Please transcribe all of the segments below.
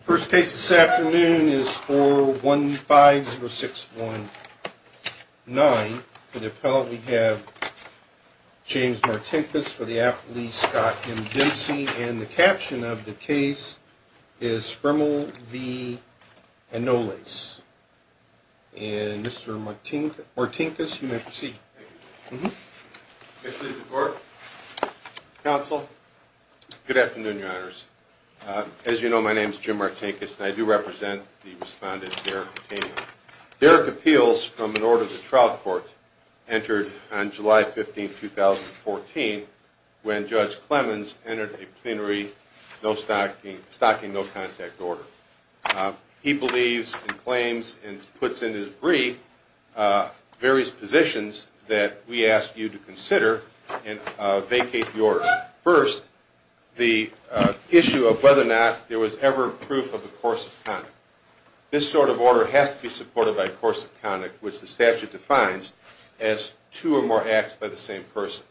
First case this afternoon is 4150619. For the appellant we have James Martinkus for the affidavit Scott M. Dempsey and the caption of the case is Frimel v. Anolles. And Mr. Martinkus, you may proceed. Thank you. May I please report? Counsel? Good afternoon, your honors. As you know, my name is Jim Martinkus and I do represent the respondent Derrick Caetano. Derrick appeals from an order of the trial court entered on July 15, 2014 when Judge Clemens entered a plenary stocking no-contact order. He believes and claims and puts in his brie various positions that we ask you to consider and vacate the order. First, the issue of whether or not there was ever proof of a course of conduct. This sort of order has to be supported by a course of conduct which the statute defines as two or more acts by the same person.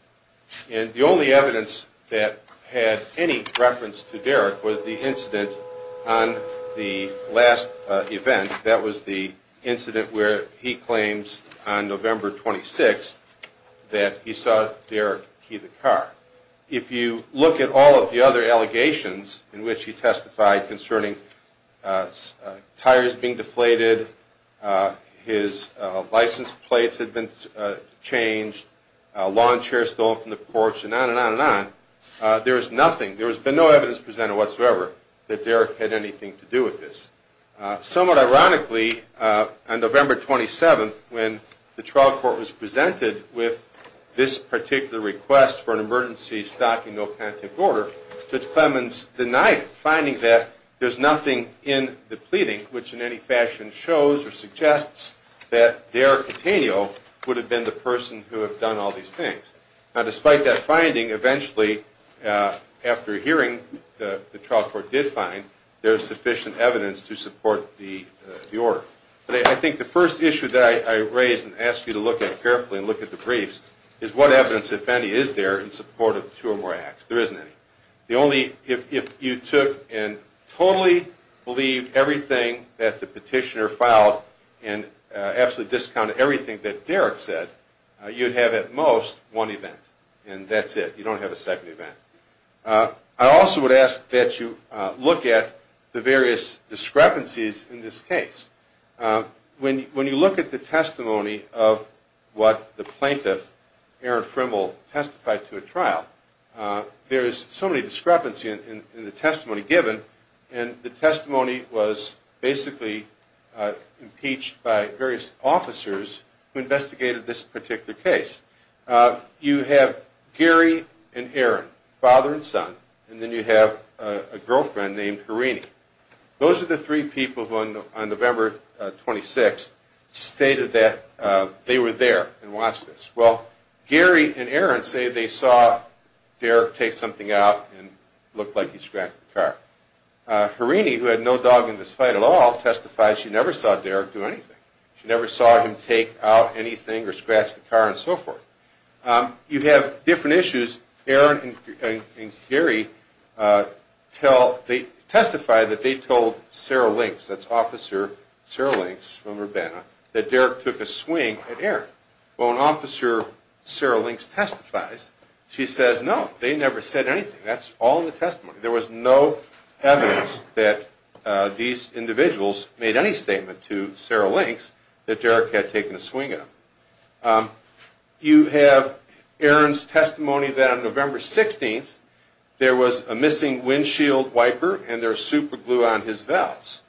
And the only evidence that had any reference to Derrick was the incident on the last event. That was the incident where he claims on November 26 that he saw Derrick key the car. If you look at all of the other allegations in which he testified concerning tires being deflated, his license plates had been changed, a lawn chair stolen from the porch, and on and on and on, there is nothing, there has been no evidence presented whatsoever that Derrick had anything to do with this. Somewhat ironically, on November 27, when the trial court was presented with this particular request for an emergency stocking no-contact order, Judge Clemens denied it, finding that there is nothing in the pleading which in any fashion shows or suggests that Derrick Caetano would have been the person who had done all these things. Now, despite that finding, eventually, after hearing the trial court did find, there is sufficient evidence to support the order. But I think the first issue that I raise and ask you to look at carefully and look at the briefs is what evidence, if any, is there in support of two or more acts? There isn't any. The only, if you took and totally believed everything that the petitioner filed and absolutely discounted everything that Derrick said, you'd have at most one event, and that's it. You don't have a second event. I also would ask that you look at the various discrepancies in this case. When you look at the testimony of what the plaintiff, Aaron Frimmel, testified to a trial, there is so many discrepancies in the testimony given, and the testimony was basically impeached by various officers who investigated this particular case. You have Gary and Aaron, father and son, and then you have a girlfriend named Harini. Those are the three people who on November 26th stated that they were there and watched this. Well, Gary and Aaron say they saw Derrick take something out and looked like he scratched the car. Harini, who had no dog in this fight at all, testified she never saw Derrick do anything. She never saw him take out anything or scratch the car and so forth. You have different issues. Aaron and Gary tell, they testify that they told Sarah Links, that's Officer Sarah Links from Urbana, that Derrick took a swing at Aaron. Well, when Officer Sarah Links testifies, she says no, they never said anything. That's all in the testimony. There was no evidence that these were true. You have Aaron's testimony that on November 16th, there was a missing windshield wiper and there was superglue on his valves.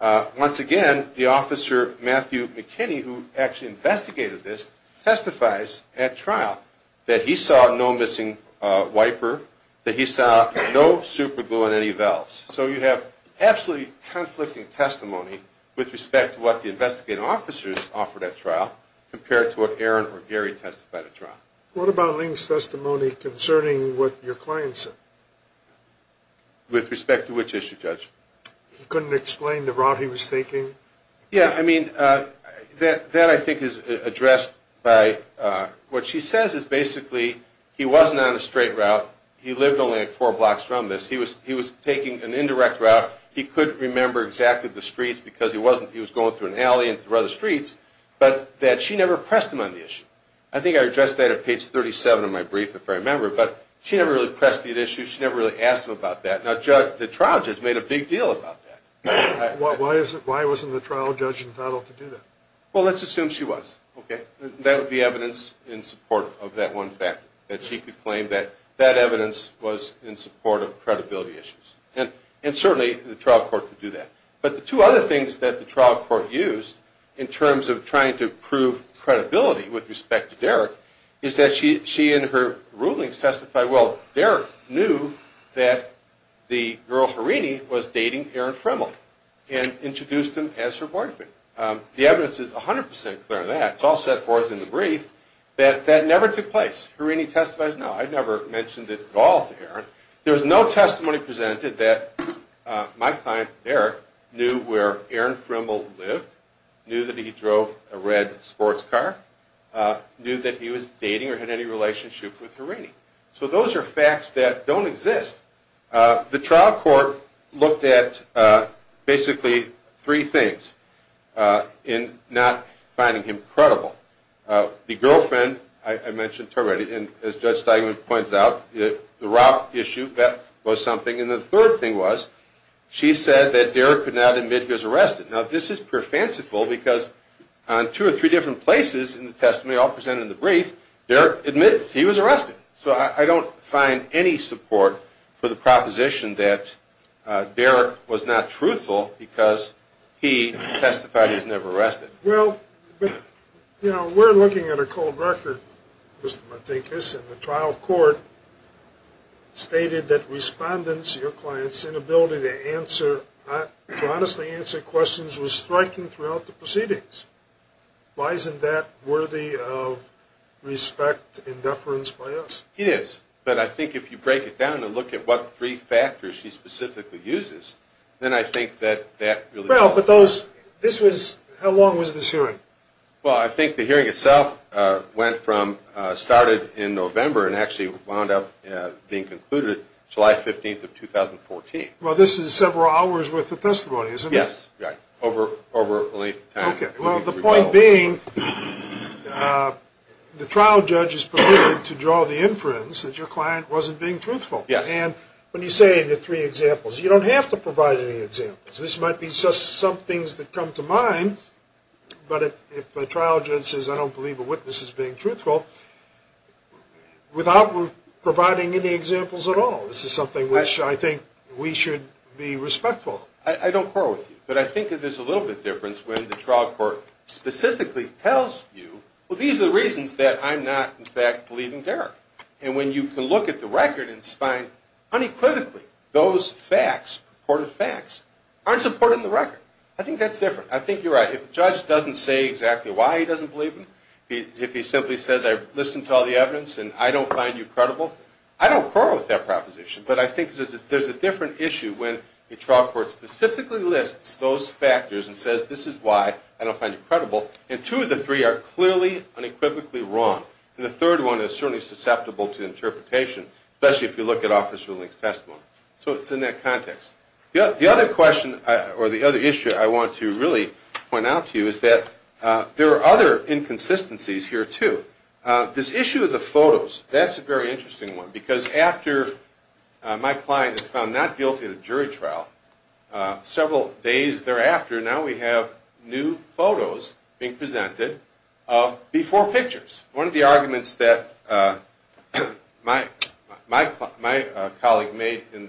Once again, the officer, Matthew McKinney, who actually investigated this, testifies at trial that he saw no missing wiper, that he saw no superglue on any valves. So you have absolutely conflicting testimony with respect to what the investigating officers offered at trial compared to what Aaron or Gary testified at trial. What about Links' testimony concerning what your client said? With respect to which issue, Judge? He couldn't explain the route he was taking? Yeah, I mean, that I think is addressed by what she says is basically he wasn't on a straight route. He lived only four blocks from this. He was taking an alley and through other streets, but that she never pressed him on the issue. I think I addressed that at page 37 of my brief, if I remember, but she never really pressed the issue. She never really asked him about that. Now, the trial judge made a big deal about that. Why wasn't the trial judge entitled to do that? Well, let's assume she was. That would be evidence in support of that one fact, that she could claim that that evidence was in support of credibility issues, and certainly the trial court could do that. But the two other things that the trial court used in terms of trying to prove credibility with respect to Derrick is that she in her rulings testified, well, Derrick knew that the girl Harini was dating Aaron Fremel and introduced him as her boyfriend. The evidence is 100 percent clear on that. It's all set forth in the brief that that never took place. Harini testifies, no, I never mentioned it at all to Aaron. There was no testimony presented that my client, Derrick, knew where Aaron Fremel lived, knew that he drove a red sports car, knew that he was dating or had any relationship with Harini. So those are facts that don't exist. The trial court looked at basically three things in not finding him credible. The girlfriend, I mentioned already, and as Judge Steigman pointed out, the rock issue, that was something. And the third thing was she said that Derrick could not admit he was arrested. Now, this is pure fanciful because on two or three different places in the testimony all presented in the brief, Derrick admits he was arrested. So I don't find any support for the proposition that Derrick was not truthful because he testified he was never arrested. Well, you know, we're looking at a cold record, Mr. Matinkas, and the trial court stated that respondents, your client's inability to answer, to honestly answer questions was striking throughout the proceedings. Why isn't that worthy of respect and deference by us? It is. But I think if you break it down and look at what three factors she specifically uses, then I think that that really Well, but those, this was, how long was this hearing? Well, I think the hearing itself went from, started in November and actually wound up being concluded July 15th of 2014. Well, this is several hours worth of testimony, isn't it? Well, the point being, the trial judge is permitted to draw the inference that your client wasn't being truthful. Yes. And when you say the three examples, you don't have to provide any examples. This might be just some things that come to mind, but if a trial judge says, I don't believe a witness is being truthful, without providing any examples at all, this is something which I think we should be respectful. I don't quarrel with you, but I think that there's a little bit of difference when the trial court specifically tells you, well, these are the reasons that I'm not, in fact, believing Derek. And when you can look at the record and find, unequivocally, those facts, purported facts, aren't supported in the record. I think that's different. I think you're right. If a judge doesn't say exactly why he doesn't believe him, if he simply says, I've listened to all the evidence and I don't find you credible, I don't quarrel with that proposition. But I think there's a different issue when a trial court specifically lists those factors and says, this is why I don't find you credible. And two of the three are clearly unequivocally wrong. And the third one is certainly susceptible to interpretation, especially if you look at Officer Link's testimony. So it's in that context. The other question, or the other issue I want to really point out to you is that there are other inconsistencies here, too. This issue of the jury trial. Several days thereafter, now we have new photos being presented of before pictures. One of the arguments that my colleague made in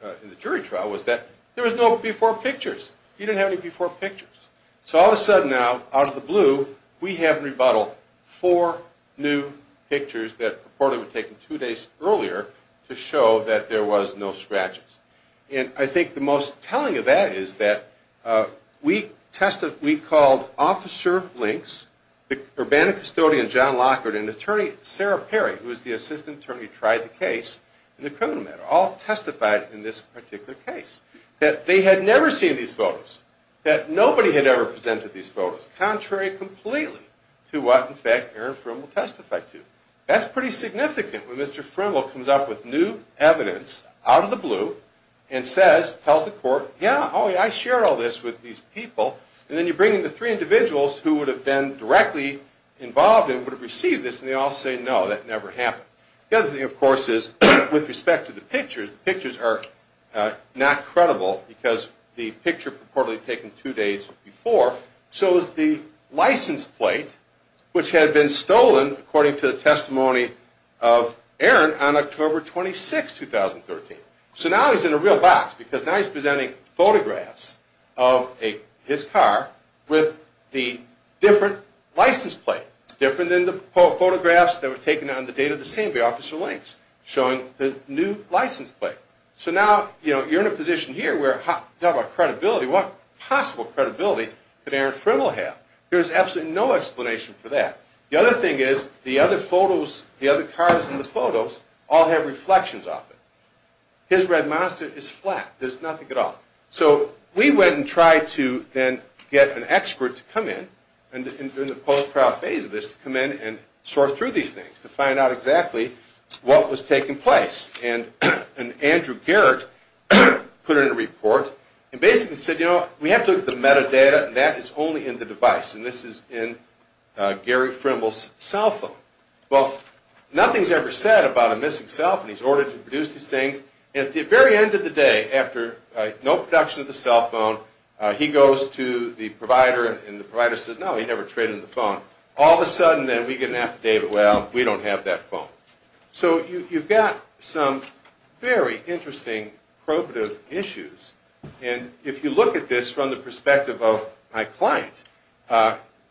the jury trial was that there was no before pictures. You didn't have any before pictures. So all of a sudden now, out of the blue, we have in rebuttal four new pictures that reportedly were taken two days earlier to show that there was no scratches. And I think the most telling of that is that we called Officer Links, the Urbana custodian John Lockhart, and attorney Sarah Perry, who is the assistant attorney who tried the case in the criminal matter, all testified in this particular case that they had never seen these photos, that nobody had ever presented these photos, contrary completely to what, in fact, Aaron Friml testified to. That's pretty significant when Mr. Friml comes up with new evidence out of the blue and says, tells the court, yeah, oh, yeah, I shared all this with these people. And then you bring in the three individuals who would have been directly involved and would have received this, and they all say, no, that never happened. The other thing, of course, is with respect to the pictures, the pictures are not credible because the picture reportedly taken two days before shows the license plate which had been stolen, according to the testimony of Aaron, on October 26, 2013. So now he's in a real box because now he's presenting photographs of his car with the different license plate, different than the photographs that were taken on the date of the scene by Officer that Aaron Friml had. There's absolutely no explanation for that. The other thing is the other photos, the other cars in the photos all have reflections of it. His Red Monster is flat. There's nothing at all. So we went and tried to then get an expert to come in, in the post-trial phase of this, to come in and sort through these things to find out exactly what was taking place. And Andrew Garrett put in a report and basically said, you know, we have to look at the data, and that is only in the device. And this is in Gary Friml's cell phone. Well, nothing's ever said about a missing cell phone. He's ordered to produce these things, and at the very end of the day, after no production of the cell phone, he goes to the provider, and the provider says, no, he never traded the phone. All of a sudden, then, we get an affidavit, well, we don't have that phone. So you've got some very interesting probative issues. And if you look at this from the perspective of my client,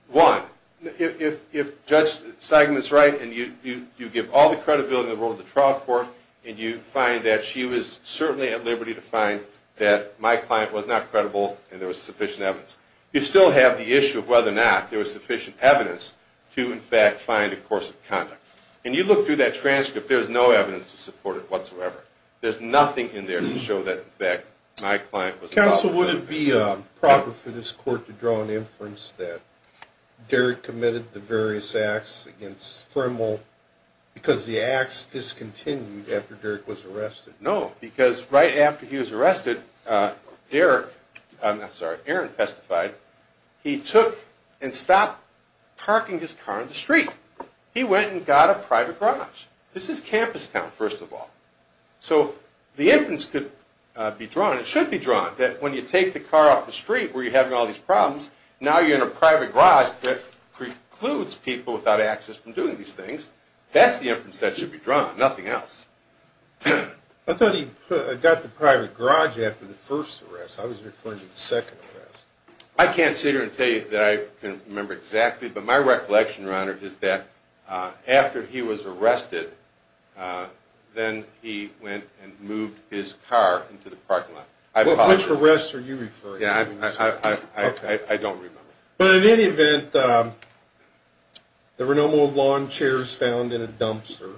one, if Judge Steigman's right, and you give all the credibility in the world of the trial court, and you find that she was certainly at liberty to find that my client was not credible and there was sufficient evidence, you still have the issue of whether or not there was sufficient evidence to, in fact, find a course of conduct. And you look through that transcript, there's no evidence to support it Counsel, would it be proper for this court to draw an inference that Derrick committed the various acts against Friml because the acts discontinued after Derrick was arrested? No, because right after he was arrested, Derrick, I'm sorry, Aaron testified, he took and stopped parking his car on the street. He went and got a private garage. This is campus town, first of all. So the inference could be drawn, it should be drawn, that when you take the car off the street where you're having all these problems, now you're in a private garage that precludes people without access from doing these things. That's the inference that should be drawn, nothing else. I thought he got the private garage after the first arrest. I was referring to the second arrest. I can't sit here and tell you that I can remember exactly, but my recollection, Your Honor, is that after he was arrested, then he went and moved his car into the parking lot. Which arrest are you referring to? I don't remember. But in any event, there were no more lawn chairs found in a dumpster.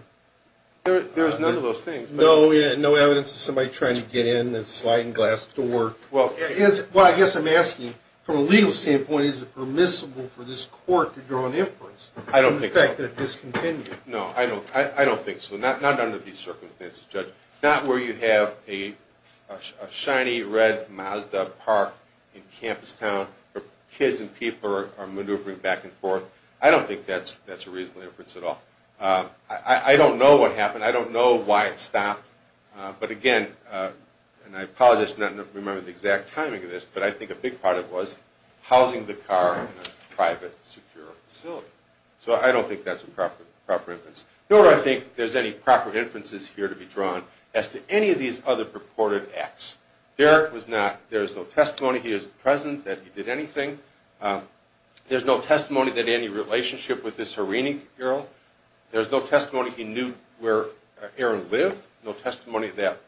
There's none of those things. No evidence of somebody trying to get in, sliding glass door. Well, I guess I'm asking, from a legal standpoint, is it permissible for this court to draw an inference on the fact that it discontinued? No, I don't think so. Not under these circumstances, Judge. Not where you have a shiny red Mazda park in campus town, where kids and people are maneuvering back and forth. I don't think that's a reasonable inference at all. I don't know what happened. I don't know why it stopped. But again, and I apologize for not remembering the exact timing of this, but I think a big part of it was housing the car in a private, secure facility. So I don't think that's a proper inference. Nor do I think there's any proper inferences here to be drawn as to any of these other purported acts. Derek was not. There's no testimony. He is present that he did anything. There's no testimony that any relationship with this Harini girl. There's no testimony he knew where Aaron lived. No testimony that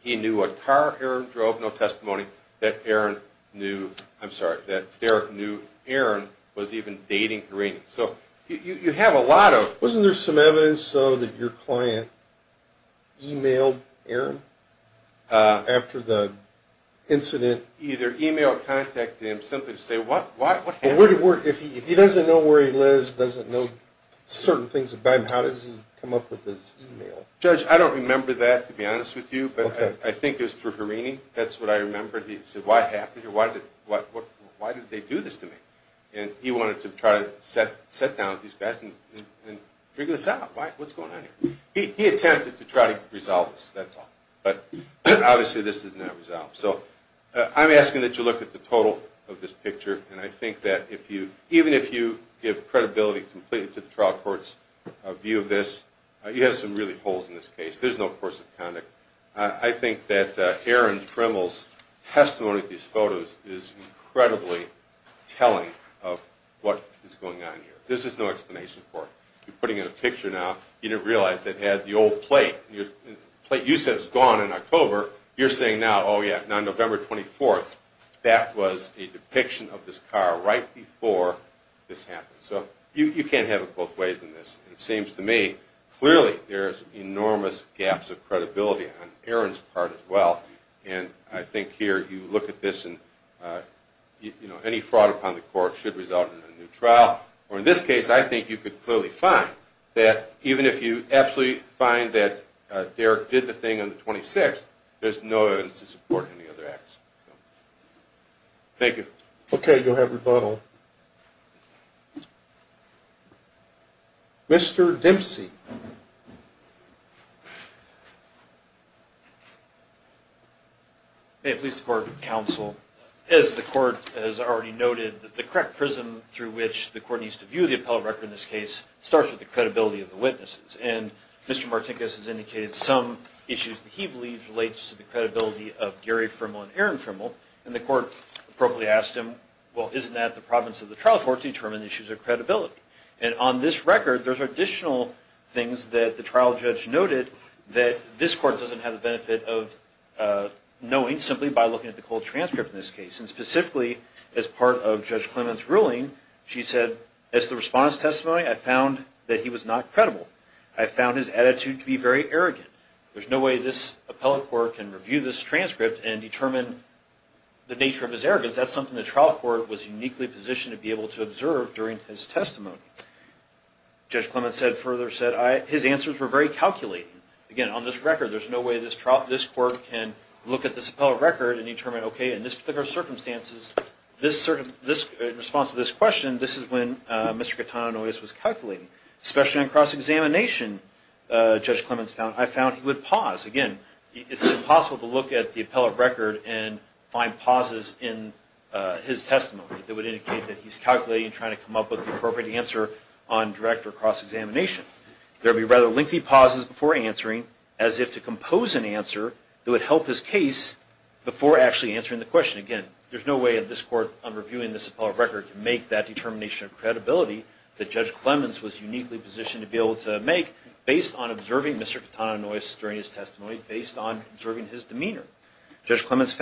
he knew what car Aaron drove. No testimony that Aaron knew, I'm sorry, that Derek knew Aaron was even your client emailed Aaron after the incident? Either email or contact him simply to say, what happened? If he doesn't know where he lives, doesn't know certain things about him, how does he come up with this email? Judge, I don't remember that to be honest with you, but I think it was through Harini. That's what I thought. What's going on here? He attempted to try to resolve this, that's all. But obviously this did not resolve. So I'm asking that you look at the total of this picture, and I think that even if you give credibility completely to the trial court's view of this, you have some really holes in this case. There's no course of conduct. I think that Aaron Grimmel's testimony to these photos is incredibly telling of what is going on here. There's just no picture now. You didn't realize it had the old plate. The plate you said was gone in October. You're saying now, oh yeah, on November 24th, that was a depiction of this car right before this happened. So you can't have it both ways in this. It seems to me clearly there's enormous gaps of credibility on Aaron's part as well. And I think here you look at this and any fraud upon the court should result in a new trial. Or in this case, I think you could clearly find that even if you absolutely find that Derek did the thing on the 26th, there's no evidence to support any other acts. Thank you. Okay, you'll have rebuttal. Mr. Dempsey. May it please the court and counsel, as the court has already noted, the correct prism through which the court needs to view the appellate record in this case starts with the credibility of the witnesses. And Mr. Martinkus has indicated some issues that he believes relates to the credibility of Gary Frimmel and Aaron Frimmel. And the court appropriately asked him, well, isn't that the province of the trial court to determine issues of credibility? And on this record, there's additional things that the trial judge noted that this court doesn't have the benefit of knowing simply by looking at the cold transcript in this case. And specifically, as part of Judge Clement's ruling, she said, as the response testimony, I found that he was not credible. I found his attitude to be very arrogant. There's no way this appellate court can review this transcript and determine the nature of his arrogance. That's something the trial court was further said. His answers were very calculated. Again, on this record, there's no way this court can look at this appellate record and determine, okay, in this particular circumstances, in response to this question, this is when Mr. Catano was calculating. Especially in cross-examination, Judge Clement's found, I found he would pause. Again, it's impossible to look at the appellate record and find pauses in his testimony that would indicate that he's calculating and trying to answer on direct or cross-examination. There would be rather lengthy pauses before answering, as if to compose an answer that would help his case before actually answering the question. Again, there's no way that this court, on reviewing this appellate record, can make that determination of credibility that Judge Clements was uniquely positioned to be able to make, based on observing Mr. Catano's noise during his testimony, based on observing his demeanor. Judge Clements was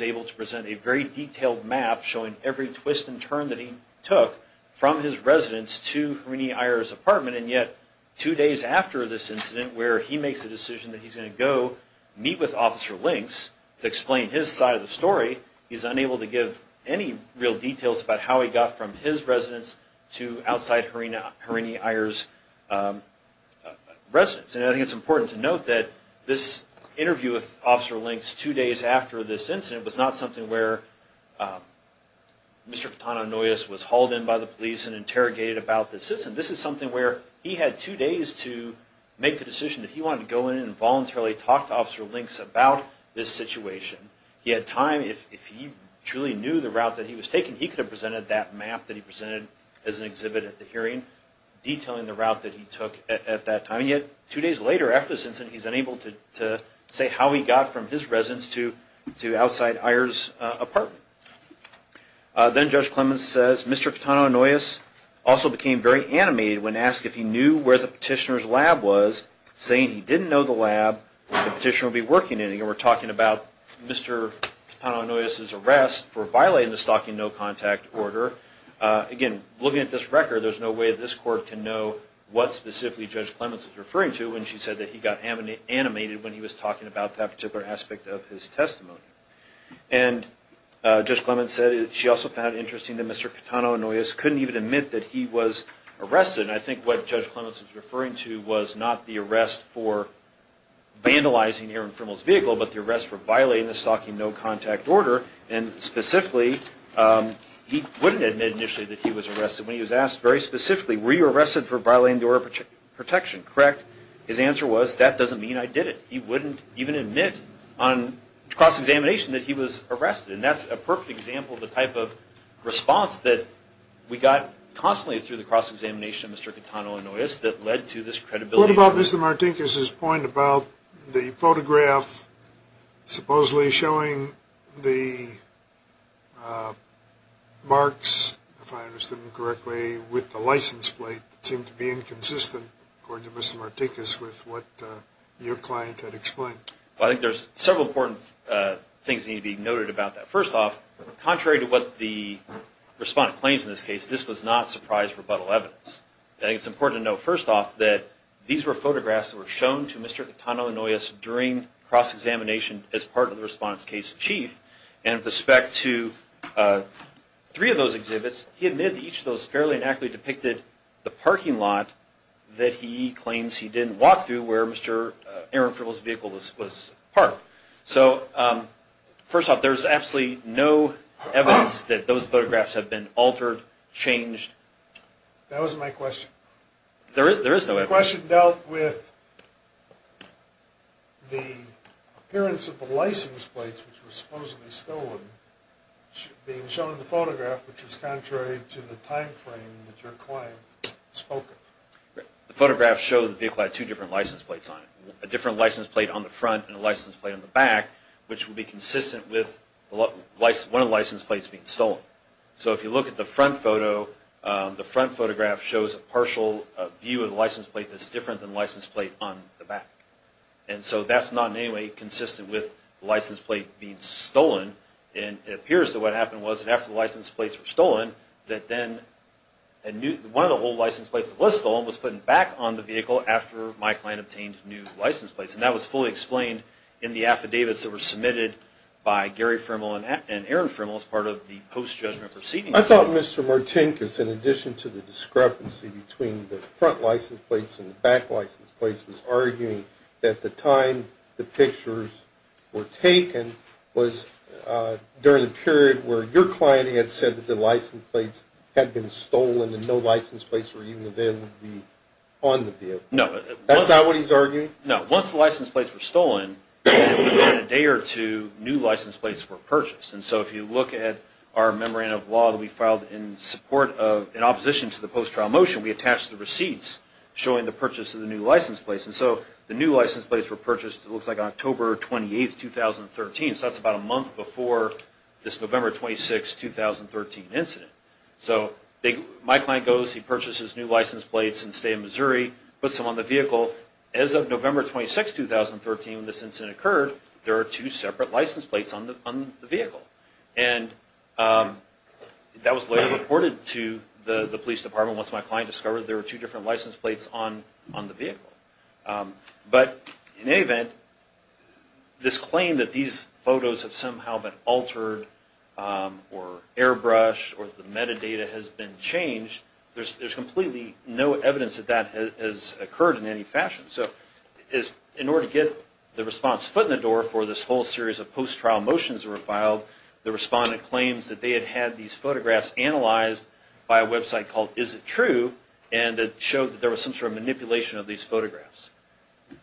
able to present a very detailed map, showing every twist and turn that he took from his residence to Hrini Iyer's apartment. And yet, two days after this incident, where he makes the decision that he's going to go meet with Officer Links to explain his side of the story, he's unable to give any real details about how he got from his residence to outside Hrini Iyer's residence. And I think it's important to note that this interview with Officer Links two days after this incident was not something where Mr. Catano Noyes was hauled in by the police and interrogated about the citizen. This is something where he had two days to make the decision that he wanted to go in and voluntarily talk to Officer Links about this situation. He had time. If he truly knew the route that he was taking, he could have presented that map that he presented as an exhibit at the hearing, detailing the route that he took at that time. And yet, two days later after this incident, he's unable to say how he got from his residence to outside Iyer's apartment. Then Judge Clements says, Mr. Catano Noyes also became very animated when asked if he knew where the petitioner's lab was, saying he didn't know the lab the petitioner would be working in. Again, we're talking about Mr. Catano Noyes's arrest for violating the stalking no contact order. Again, looking at this record, there's no way this court can know what specifically Judge Clements was referring to when she said that he got animated when he was talking about that particular aspect of his testimony. And Judge Clements said she also found interesting that Mr. Catano Noyes couldn't even admit that he was arrested. And I think what Judge Clements was referring to was not the arrest for vandalizing here in Frimmell's vehicle, but the arrest for violating the stalking no contact order. And specifically, he wouldn't admit initially that he was arrested. When he was asked very specifically, were you arrested for violating the order of protection? Correct. His answer was, that doesn't mean I did it. He wouldn't even admit on cross-examination that he was arrested. And that's a perfect example of the type of response that we got constantly through the cross-examination of Mr. Catano Noyes that led to this credibility. What about Mr. Martinkus' point about the photograph supposedly showing the marks, if I understand correctly, with the license plate that seemed to be inconsistent, according to Mr. Martinkus, with what your client had explained? I think there's several important things that need to be noted about that. First off, contrary to what the respondent claims in this case, this was not surprise rebuttal evidence. It's important to note, first off, that these were photographs that were shown to Mr. Catano Noyes during cross-examination as part of the respondent's case in chief. And with respect to three of those exhibits, he admitted that each of those fairly and accurately depicted the parking lot that he claims he didn't walk through where Mr. Aaron Frimmell's vehicle was parked. So first off, there's absolutely no evidence that those That wasn't my question. There is no evidence. The question dealt with the appearance of the license plates, which were supposedly stolen, being shown in the photograph, which was contrary to the time frame that your client spoke of. The photographs show the vehicle had two different license plates on it, a different license plate on the front and a license plate on the back, which would be The front photograph shows a partial view of the license plate that's different than the license plate on the back. And so that's not in any way consistent with the license plate being stolen. And it appears that what happened was that after the license plates were stolen, that then one of the old license plates that was stolen was put back on the vehicle after my client obtained new license plates. And that was fully explained in the affidavits that were submitted by Gary Frimmell and Aaron Frimmell as part of the post-judgment proceedings. I thought Mr. Martinkus, in addition to the discrepancy between the front license plates and the back license plates, was arguing that the time the pictures were taken was during the period where your client had said that the license plates had been stolen and no license plates were even available to be on the vehicle. No. That's not what he's arguing? No. Once the license plates were stolen, within a day or two, new license plates were purchased. And so if you look at our memorandum of law that we filed in support of, in opposition to the post-trial motion, we attached the receipts showing the purchase of the new license plates. And so the new license plates were purchased, it looks like, on October 28, 2013. So that's about a month before this November 26, 2013 incident. So my client goes, he purchases new license plates in the state of Missouri, puts them on the vehicle. As of November 26, 2013, when this incident occurred, there are two separate license plates on the vehicle. And that was later reported to the police department once my client discovered there were two different license plates on the vehicle. But in any event, this claim that these photos have somehow been altered or airbrushed or the metadata has been changed, there's completely no evidence that that has occurred in any fashion. So in order to get the response foot in the door for this whole series of post-trial motions that were filed, the respondent claims that they had had these photographs analyzed by a website called Is It True? And it showed that there was some sort of manipulation of these photographs.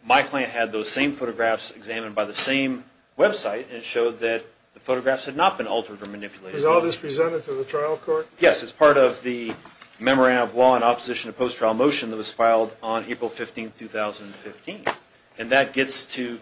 My client had those same photographs examined by the same website, and it showed that the photographs had not been altered or manipulated. Is all this presented to the trial court? Yes, it's part of the Memorandum of Law in Opposition to Post-Trial Motion that was filed on April 15, 2015. And that gets to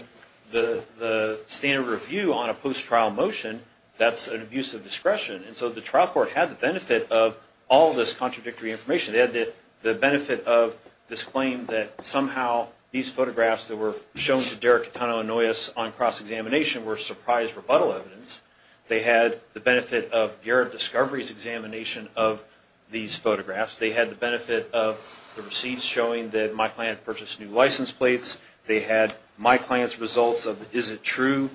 the standard review on a post-trial motion. That's an abuse of discretion. And so the trial court had the benefit of all this contradictory information. They had the benefit of this claim that somehow these photographs that were shown to Derek Catano and Noyes on cross-examination were surprise rebuttal evidence. They had the benefit of Garrett Discovery's examination of these photographs. They had the benefit of the receipts showing that my client purchased new license plates. They had my client's results of Is It True?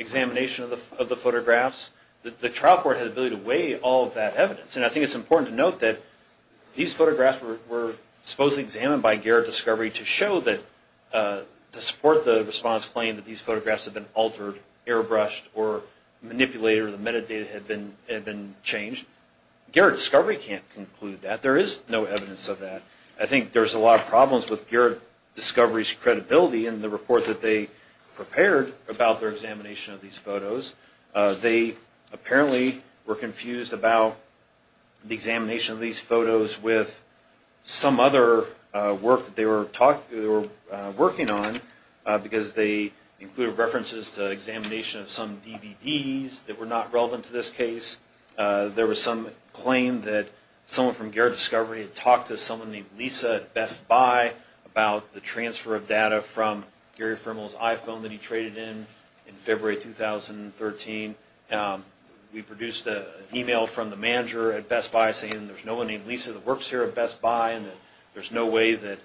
examination of the photographs. The trial court had the ability to weigh all of that evidence. And I think it's important to note that these photographs were supposedly examined by Garrett Discovery to show that, to support the respondent's claim that these photographs had been altered, airbrushed, or manipulated, or the metadata had been changed. Garrett Discovery can't conclude that. There is no evidence of that. I think there's a lot of problems with Garrett Discovery's credibility in the report that they prepared about their examination of these photos. They apparently were confused about the examination of these photos with some other work that they were working on, because they included references to examination of some DVDs that were not relevant to this case. There was some claim that someone from Garrett Discovery had talked to someone named Lisa at Best Buy about the transfer of data from Gary Firmal's iPhone that he traded in, in February 2013. We produced an email from the manager at Best Buy saying there's no one named Lisa that works here at Best Buy, and that there's no way that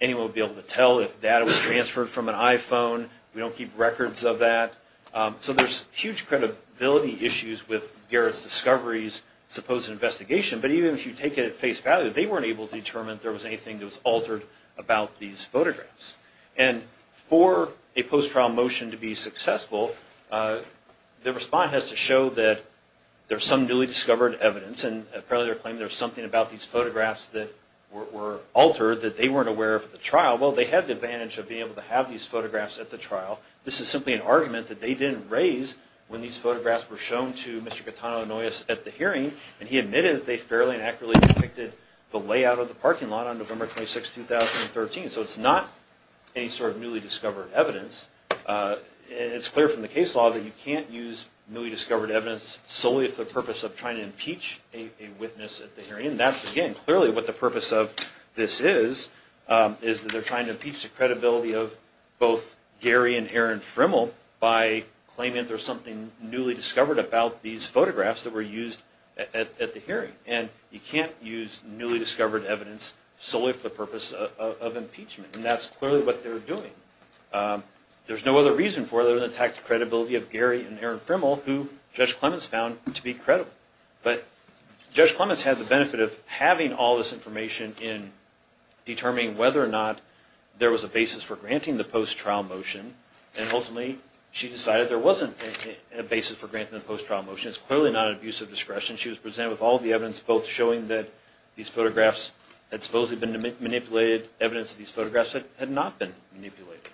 anyone would be able to tell if data was transferred from an iPhone. We don't keep records of that. So there's huge credibility issues with Garrett Discovery's supposed investigation. But even if you take it at face value, they weren't able to determine if there was anything that was altered about these photographs. And for a post-trial motion to be successful, the response has to show that there's some newly discovered evidence, and apparently they're claiming there's something about these photographs that were altered that they weren't aware of at the trial. Well, they had the advantage of being able to have these photographs at the trial. This is simply an argument that they didn't raise when these photographs were shown to Mr. Catano-Annoyes at the hearing, and he admitted that they fairly and accurately depicted the layout of the parking lot on November 26, 2013. So it's not any sort of newly discovered evidence. It's clear from the case law that you can't use newly discovered evidence solely for the purpose of trying to impeach a witness at the hearing. And that's, again, clearly what the purpose of this is, is that they're trying to impeach the credibility of both Gary and Erin Frimmel by claiming there's something newly discovered about these photographs that were used at the hearing. And you can't use newly discovered evidence solely for the purpose of impeachment. And that's clearly what they're doing. There's no other reason for it other than the tax credibility of Gary and Erin Frimmel, who Judge Clements found to be credible. But Judge Clements had the benefit of having all this information in determining whether or not there was a basis for granting the post-trial motion, and ultimately she decided there wasn't a basis for granting the post-trial motion. It's clearly not an abuse of discretion. She was presented with all the evidence, both showing that these photographs had supposedly been manipulated, evidence that these photographs had not been manipulated.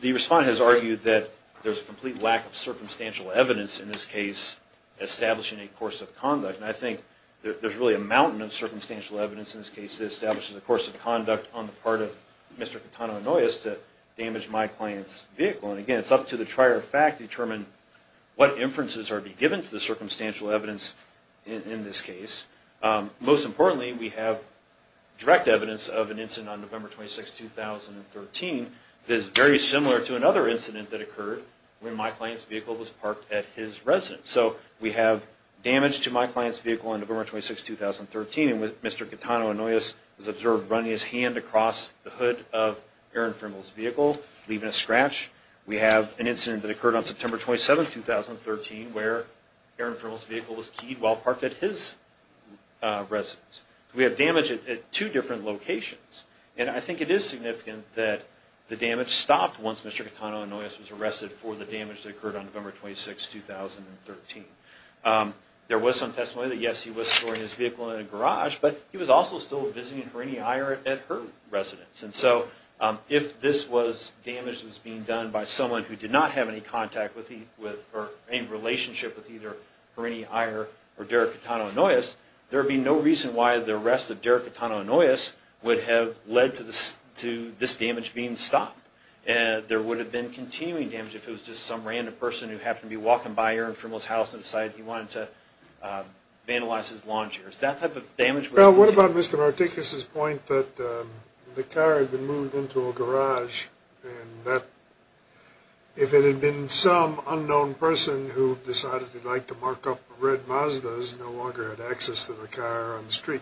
The respondent has argued that there's a complete lack of circumstantial evidence in this case establishing a course of conduct. And I think there's really a mountain of circumstantial evidence in this case that establishes a course of conduct on the part of Mr. Catano and Noyes to damage my client's vehicle. And again, it's up to the trier of fact to determine what inferences are to be given to the circumstantial evidence in this case. Most importantly, we have direct evidence of an incident on November 26, 2013 that is very similar to another incident that occurred when my client's vehicle was parked at his residence. So we have damage to my client's vehicle on November 26, 2013, and Mr. Catano and Noyes was observed running his hand across the hood of Erin Frimmel's vehicle, leaving a scratch. We have an incident that occurred on September 27, 2013, where Erin Frimmel's vehicle was keyed while parked at his residence. We have damage at two different locations. And I think it is significant that the damage stopped once Mr. Catano and Noyes was arrested for the damage that occurred on November 26, 2013. There was some testimony that, yes, he was storing his vehicle in a garage, but he was also still visiting Granny Eyre at her residence. And so if this was damage that was being done by someone who did not have any contact with or any relationship with either Granny Eyre or Derek Catano and Noyes, there would be no reason why the arrest of Derek Catano and Noyes would have led to this damage being stopped. And there would have been continuing damage if it was just some random person who happened to be walking by Erin Frimmel's house and decided he wanted to vandalize his lawn chairs. Well, what about Mr. Martinkus's point that the car had been moved into a garage and that if it had been some unknown person who decided he'd like to mark up red Mazdas, no longer had access to the car on the street?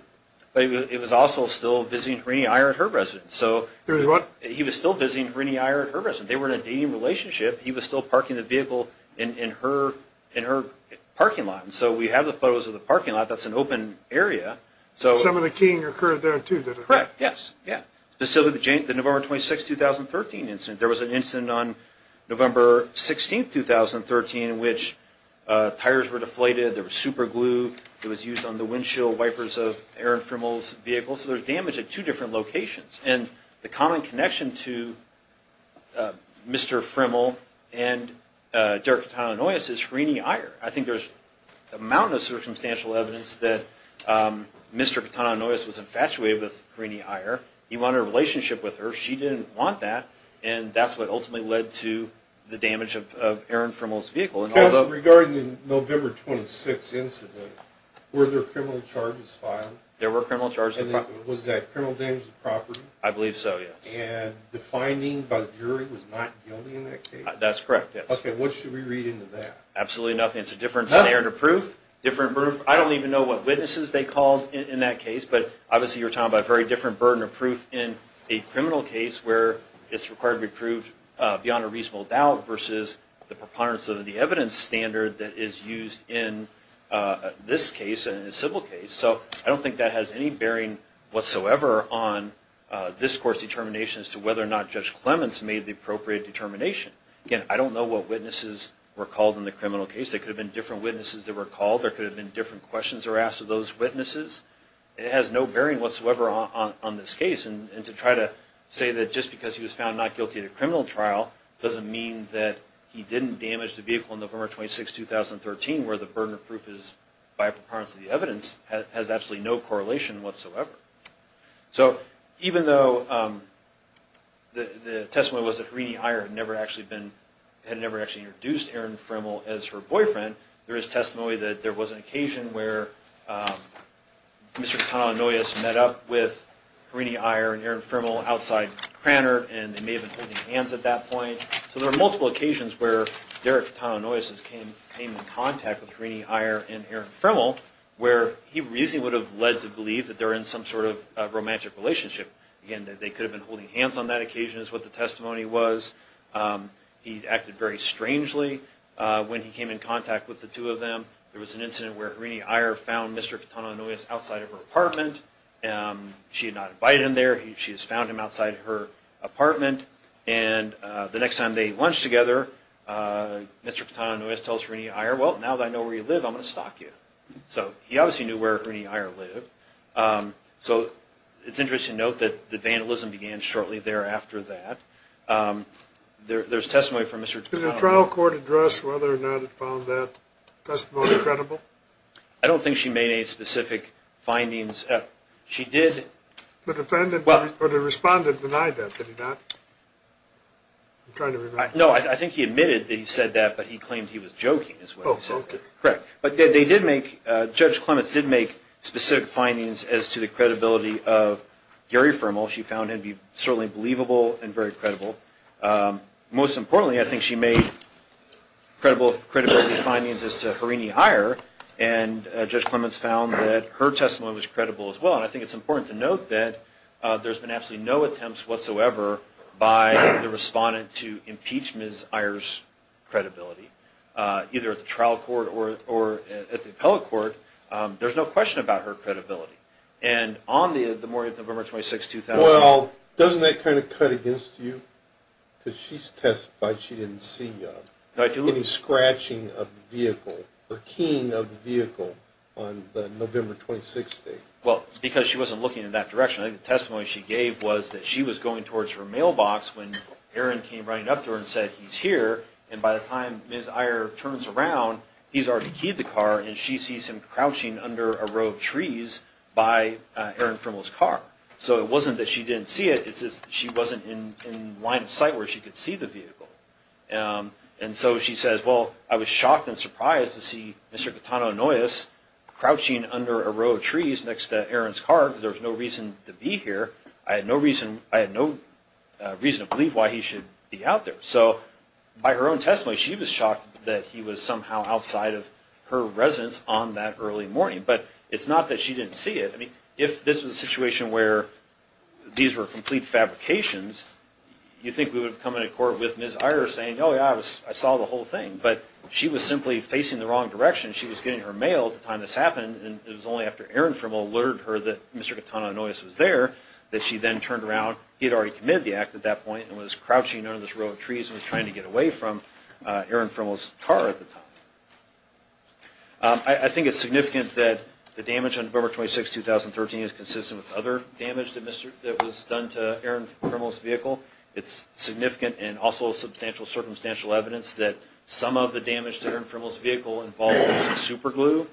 It was also still visiting Granny Eyre at her residence. So he was still visiting Granny Eyre at her residence. They were in a dating relationship. He was still parking the vehicle in her parking lot. And so we have the photos of the parking lot. That's an open area. So some of the keying occurred there, too. Correct. Yes. Yeah. Specifically, the November 26, 2013 incident. There was an incident on November 16, 2013 in which tires were deflated. There was super glue that was used on the windshield wipers of Erin Frimmel's vehicle. So there's damage at two different locations. And the common connection to Mr. Frimmel and Derek Catano and Noyes is Granny Eyre. I think there's a mountain of circumstantial evidence that Mr. Catano and Noyes was infatuated with Granny Eyre. He wanted a relationship with her. She didn't want that. And that's what ultimately led to the damage of Erin Frimmel's vehicle. And although- Regarding the November 26 incident, were there criminal charges filed? There were criminal charges filed. Was that criminal damage to property? I believe so, yes. And the finding by the jury was not guilty in that case? That's correct, yes. Okay. What should we read into that? Absolutely nothing. It's a different scenario proof. Different proof. I don't even know what witnesses they called in that case. But obviously you're talking about a very different burden of proof in a criminal case where it's required to be proved beyond a reasonable doubt versus the preponderance of the evidence standard that is used in this case and a civil case. So I don't think that has any bearing whatsoever on this court's determination as to whether or not Judge Clements made the appropriate determination. Again, I don't know what witnesses were called in the criminal case. There could have been different witnesses that were called. There could have been different questions that were asked of those witnesses. It has no bearing whatsoever on this case. And to try to say that just because he was found not guilty in a criminal trial doesn't mean that he didn't damage the vehicle on November 26, 2013 where the burden of proof is by a preponderance of the evidence has absolutely no correlation whatsoever. So even though the testimony was that Harini Iyer had never actually introduced Erin Fremmel as her boyfriend, there is testimony that there was an occasion where Mr. Catano-Noyes met up with Harini Iyer and Erin Fremmel outside Cranor and they may have been holding hands at that point. So there are multiple occasions where Derek Catano-Noyes came in contact with Harini Iyer and Erin Fremmel where he reasonably would have led to believe that they were in some sort of romantic relationship. Again, they could have been holding hands on that occasion is what the testimony was. He acted very strangely when he came in contact with the two of them. There was an incident where Harini Iyer found Mr. Catano-Noyes outside of her apartment. She did not invite him there. She just found him outside her apartment. And the next time they lunched together, Mr. Catano-Noyes tells Harini Iyer, well, now that I know where you live, I'm going to stalk you. So he obviously knew where Harini Iyer lived. So it's interesting to note that the vandalism began shortly thereafter that. There's testimony from Mr. Catano-Noyes. Did the trial court address whether or not it found that testimony credible? I don't think she made any specific findings. She did. The defendant or the respondent denied that, did he not? I'm trying to remember. No, I think he admitted that he said that, but he claimed he was joking is what he said. Correct. But they did make, Judge Clements did make specific findings as to the credibility of Gary Fermel. She found him to be certainly believable and very credible. Most importantly, I think she made credible findings as to Harini Iyer. And Judge Clements found that her testimony was credible as well. And I think it's important to note that there's been absolutely no attempts whatsoever by the respondent to impeach Ms. Iyer's credibility, either at the trial court or at the appellate court. There's no question about her credibility. And on the morning of November 26, 2000. Well, doesn't that kind of cut against you? Because she testified she didn't see any scratching of the vehicle or keying of the vehicle on the November 26 date. Well, because she wasn't looking in that direction. I think the testimony she gave was that she was going towards her mailbox when Aaron came running up to her and said he's here. And by the time Ms. Iyer turns around, he's already keyed the car and she sees him crouching under a row of trees by Aaron Fermel's car. So it wasn't that she didn't see it. It's just she wasn't in line of sight where she could see the vehicle. And so she says, well, I was shocked and surprised to see Mr. Catano Noyes crouching under a row of trees next to Aaron's car. There's no reason to be here. I had no reason. I had no reason to believe why he should be out there. So by her own testimony, she was shocked that he was somehow outside of her residence on that early morning. But it's not that she didn't see it. I mean, if this was a situation where these were complete fabrications, you think we would have come into court with Ms. Iyer saying, oh, yeah, I saw the whole thing. But she was simply facing the wrong direction. She was getting her mail at the time this happened, and it was only after Aaron Fermel alerted her that Mr. Catano Noyes was there that she then turned around. He had already committed the act at that point and was crouching under this row of trees and was trying to get away from Aaron Fermel's car at the time. I think it's significant that the damage on November 26, 2013 is consistent with other damage that was done to Aaron Fermel's vehicle. It's significant and also substantial circumstantial evidence that some of the damage to Aaron Fermel's vehicle involved superglue.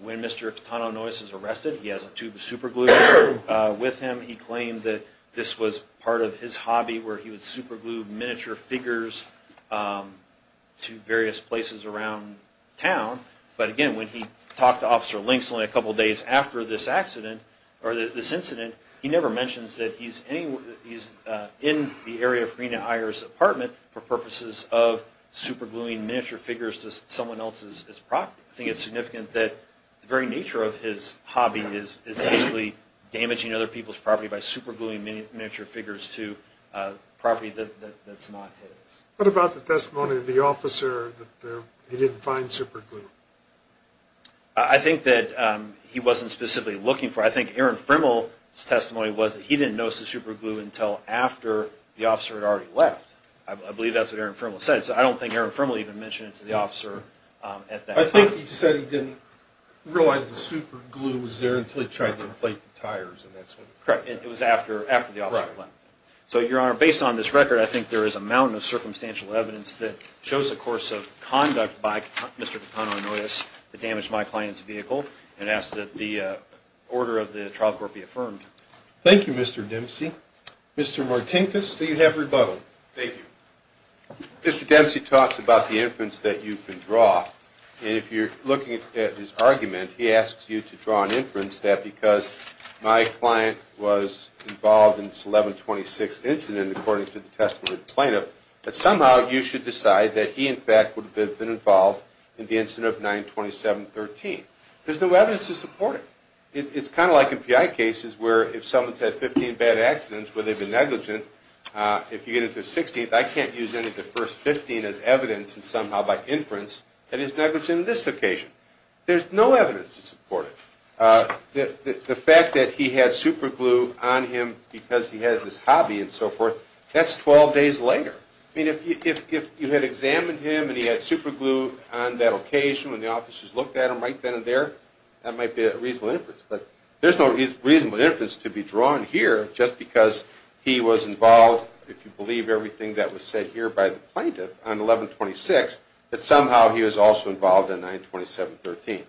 When Mr. Catano Noyes is arrested, he has a tube of superglue with him. He claimed that this was part of his hobby, where he would superglue miniature figures to various places around town. But again, when he talked to Officer Links only a couple days after this incident, he never mentions that he's in the area of Rena Iyer's apartment for purposes of supergluing miniature figures to someone else's property. I think it's significant that the very nature of his hobby is damaging other people's property by supergluing miniature figures to property that's not his. What about the testimony of the officer that he didn't find superglue? I think that he wasn't specifically looking for it. I think Aaron Fermel's testimony was that he didn't notice the superglue until after the officer had already left. I believe that's what Aaron Fermel said, so I don't think Aaron Fermel even mentioned it to the officer at that point. I think he said he didn't realize the superglue was there until he tried to inflate the tires and that sort of thing. Correct. It was after the officer had left. So, Your Honor, based on this record, I think there is a mountain of circumstantial evidence that shows the course of conduct by Mr. Catano Noyes that damaged my client's vehicle and asks that the order of the trial court be affirmed. Thank you, Mr. Dempsey. Mr. Martinkus, you have rebuttal. Thank you. Mr. Dempsey talks about the inference that you can draw. And if you're looking at his argument, he asks you to draw an inference that because my client was involved in this 11-26 incident, according to the testimony of the plaintiff, that somehow you should decide that he, in fact, would have been involved in the incident of 9-27-13. There's no evidence to support it. It's kind of like in PI cases where if someone's had 15 bad accidents where they've been negligent, if you get it to the 16th, I can't use any of the first 15 as evidence and somehow by inference that he's negligent on this occasion. There's no evidence to support it. The fact that he had superglue on him because he has this hobby and so forth, that's 12 days later. I mean, if you had examined him and he had superglue on that occasion when the officers looked at him right then and there, that might be a reasonable inference. But there's no reasonable inference to be drawn here just because he was involved, if you believe everything that was said here by the plaintiff on 11-26, that somehow he was also involved in 9-27-13.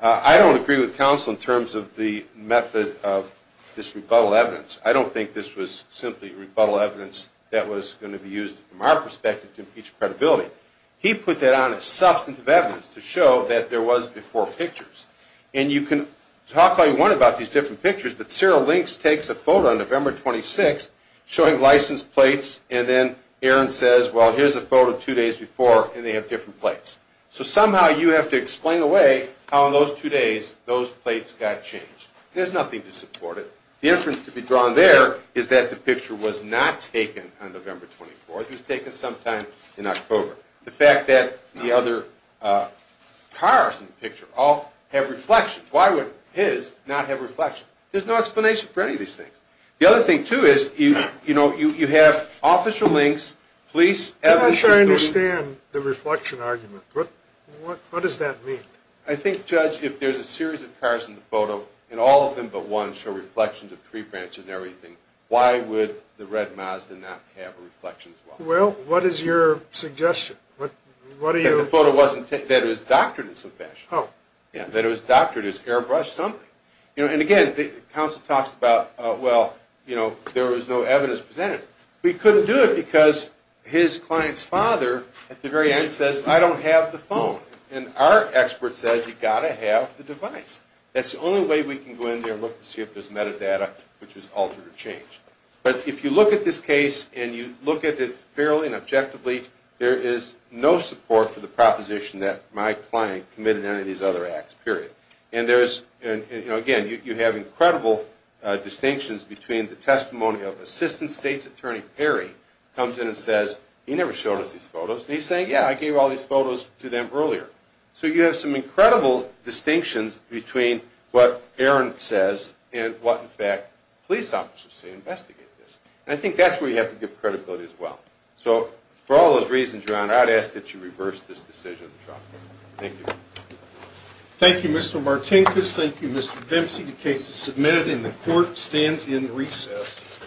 I don't agree with counsel in terms of the method of this rebuttal evidence. I don't think this was simply rebuttal evidence that was going to be used from our perspective to impeach credibility. He put that on as substantive evidence to show that there was before pictures. And you can talk all you want about these different pictures, but Sarah Links takes a photo on November 26 showing license plates and then Aaron says, well, here's a photo two days before and they have different plates. So somehow you have to explain away how in those two days those plates got changed. There's nothing to support it. The inference to be drawn there is that the picture was not taken on November 24. It was taken sometime in October. The fact that the other cars in the picture all have reflections, why would his not have reflections? There's no explanation for any of these things. The other thing, too, is you have Officer Links, police, evidence. I'm not sure I understand the reflection argument. What does that mean? I think, Judge, if there's a series of cars in the photo and all of them but one show reflections of tree branches and everything, why would the red Mazda not have a reflection as well? Well, what is your suggestion? That it was doctored in some fashion. Oh. That it was doctored, it was airbrushed, something. And, again, the counsel talks about, well, there was no evidence presented. We couldn't do it because his client's father at the very end says, I don't have the phone. And our expert says, you've got to have the device. That's the only way we can go in there and look to see if there's metadata which was altered or changed. But if you look at this case and you look at it fairly and objectively, there is no support for the proposition that my client committed any of these other acts, period. And, again, you have incredible distinctions between the testimony of Assistant State's Attorney Perry comes in and says, he never showed us these photos, and he's saying, yeah, I gave all these photos to them earlier. So you have some incredible distinctions between what Aaron says and what, in fact, police officers say investigate this. And I think that's where you have to give credibility as well. So for all those reasons, Your Honor, I'd ask that you reverse this decision. Thank you. Thank you, Mr. Martinkus. Thank you, Mr. Dempsey. The case is submitted and the court stands in recess.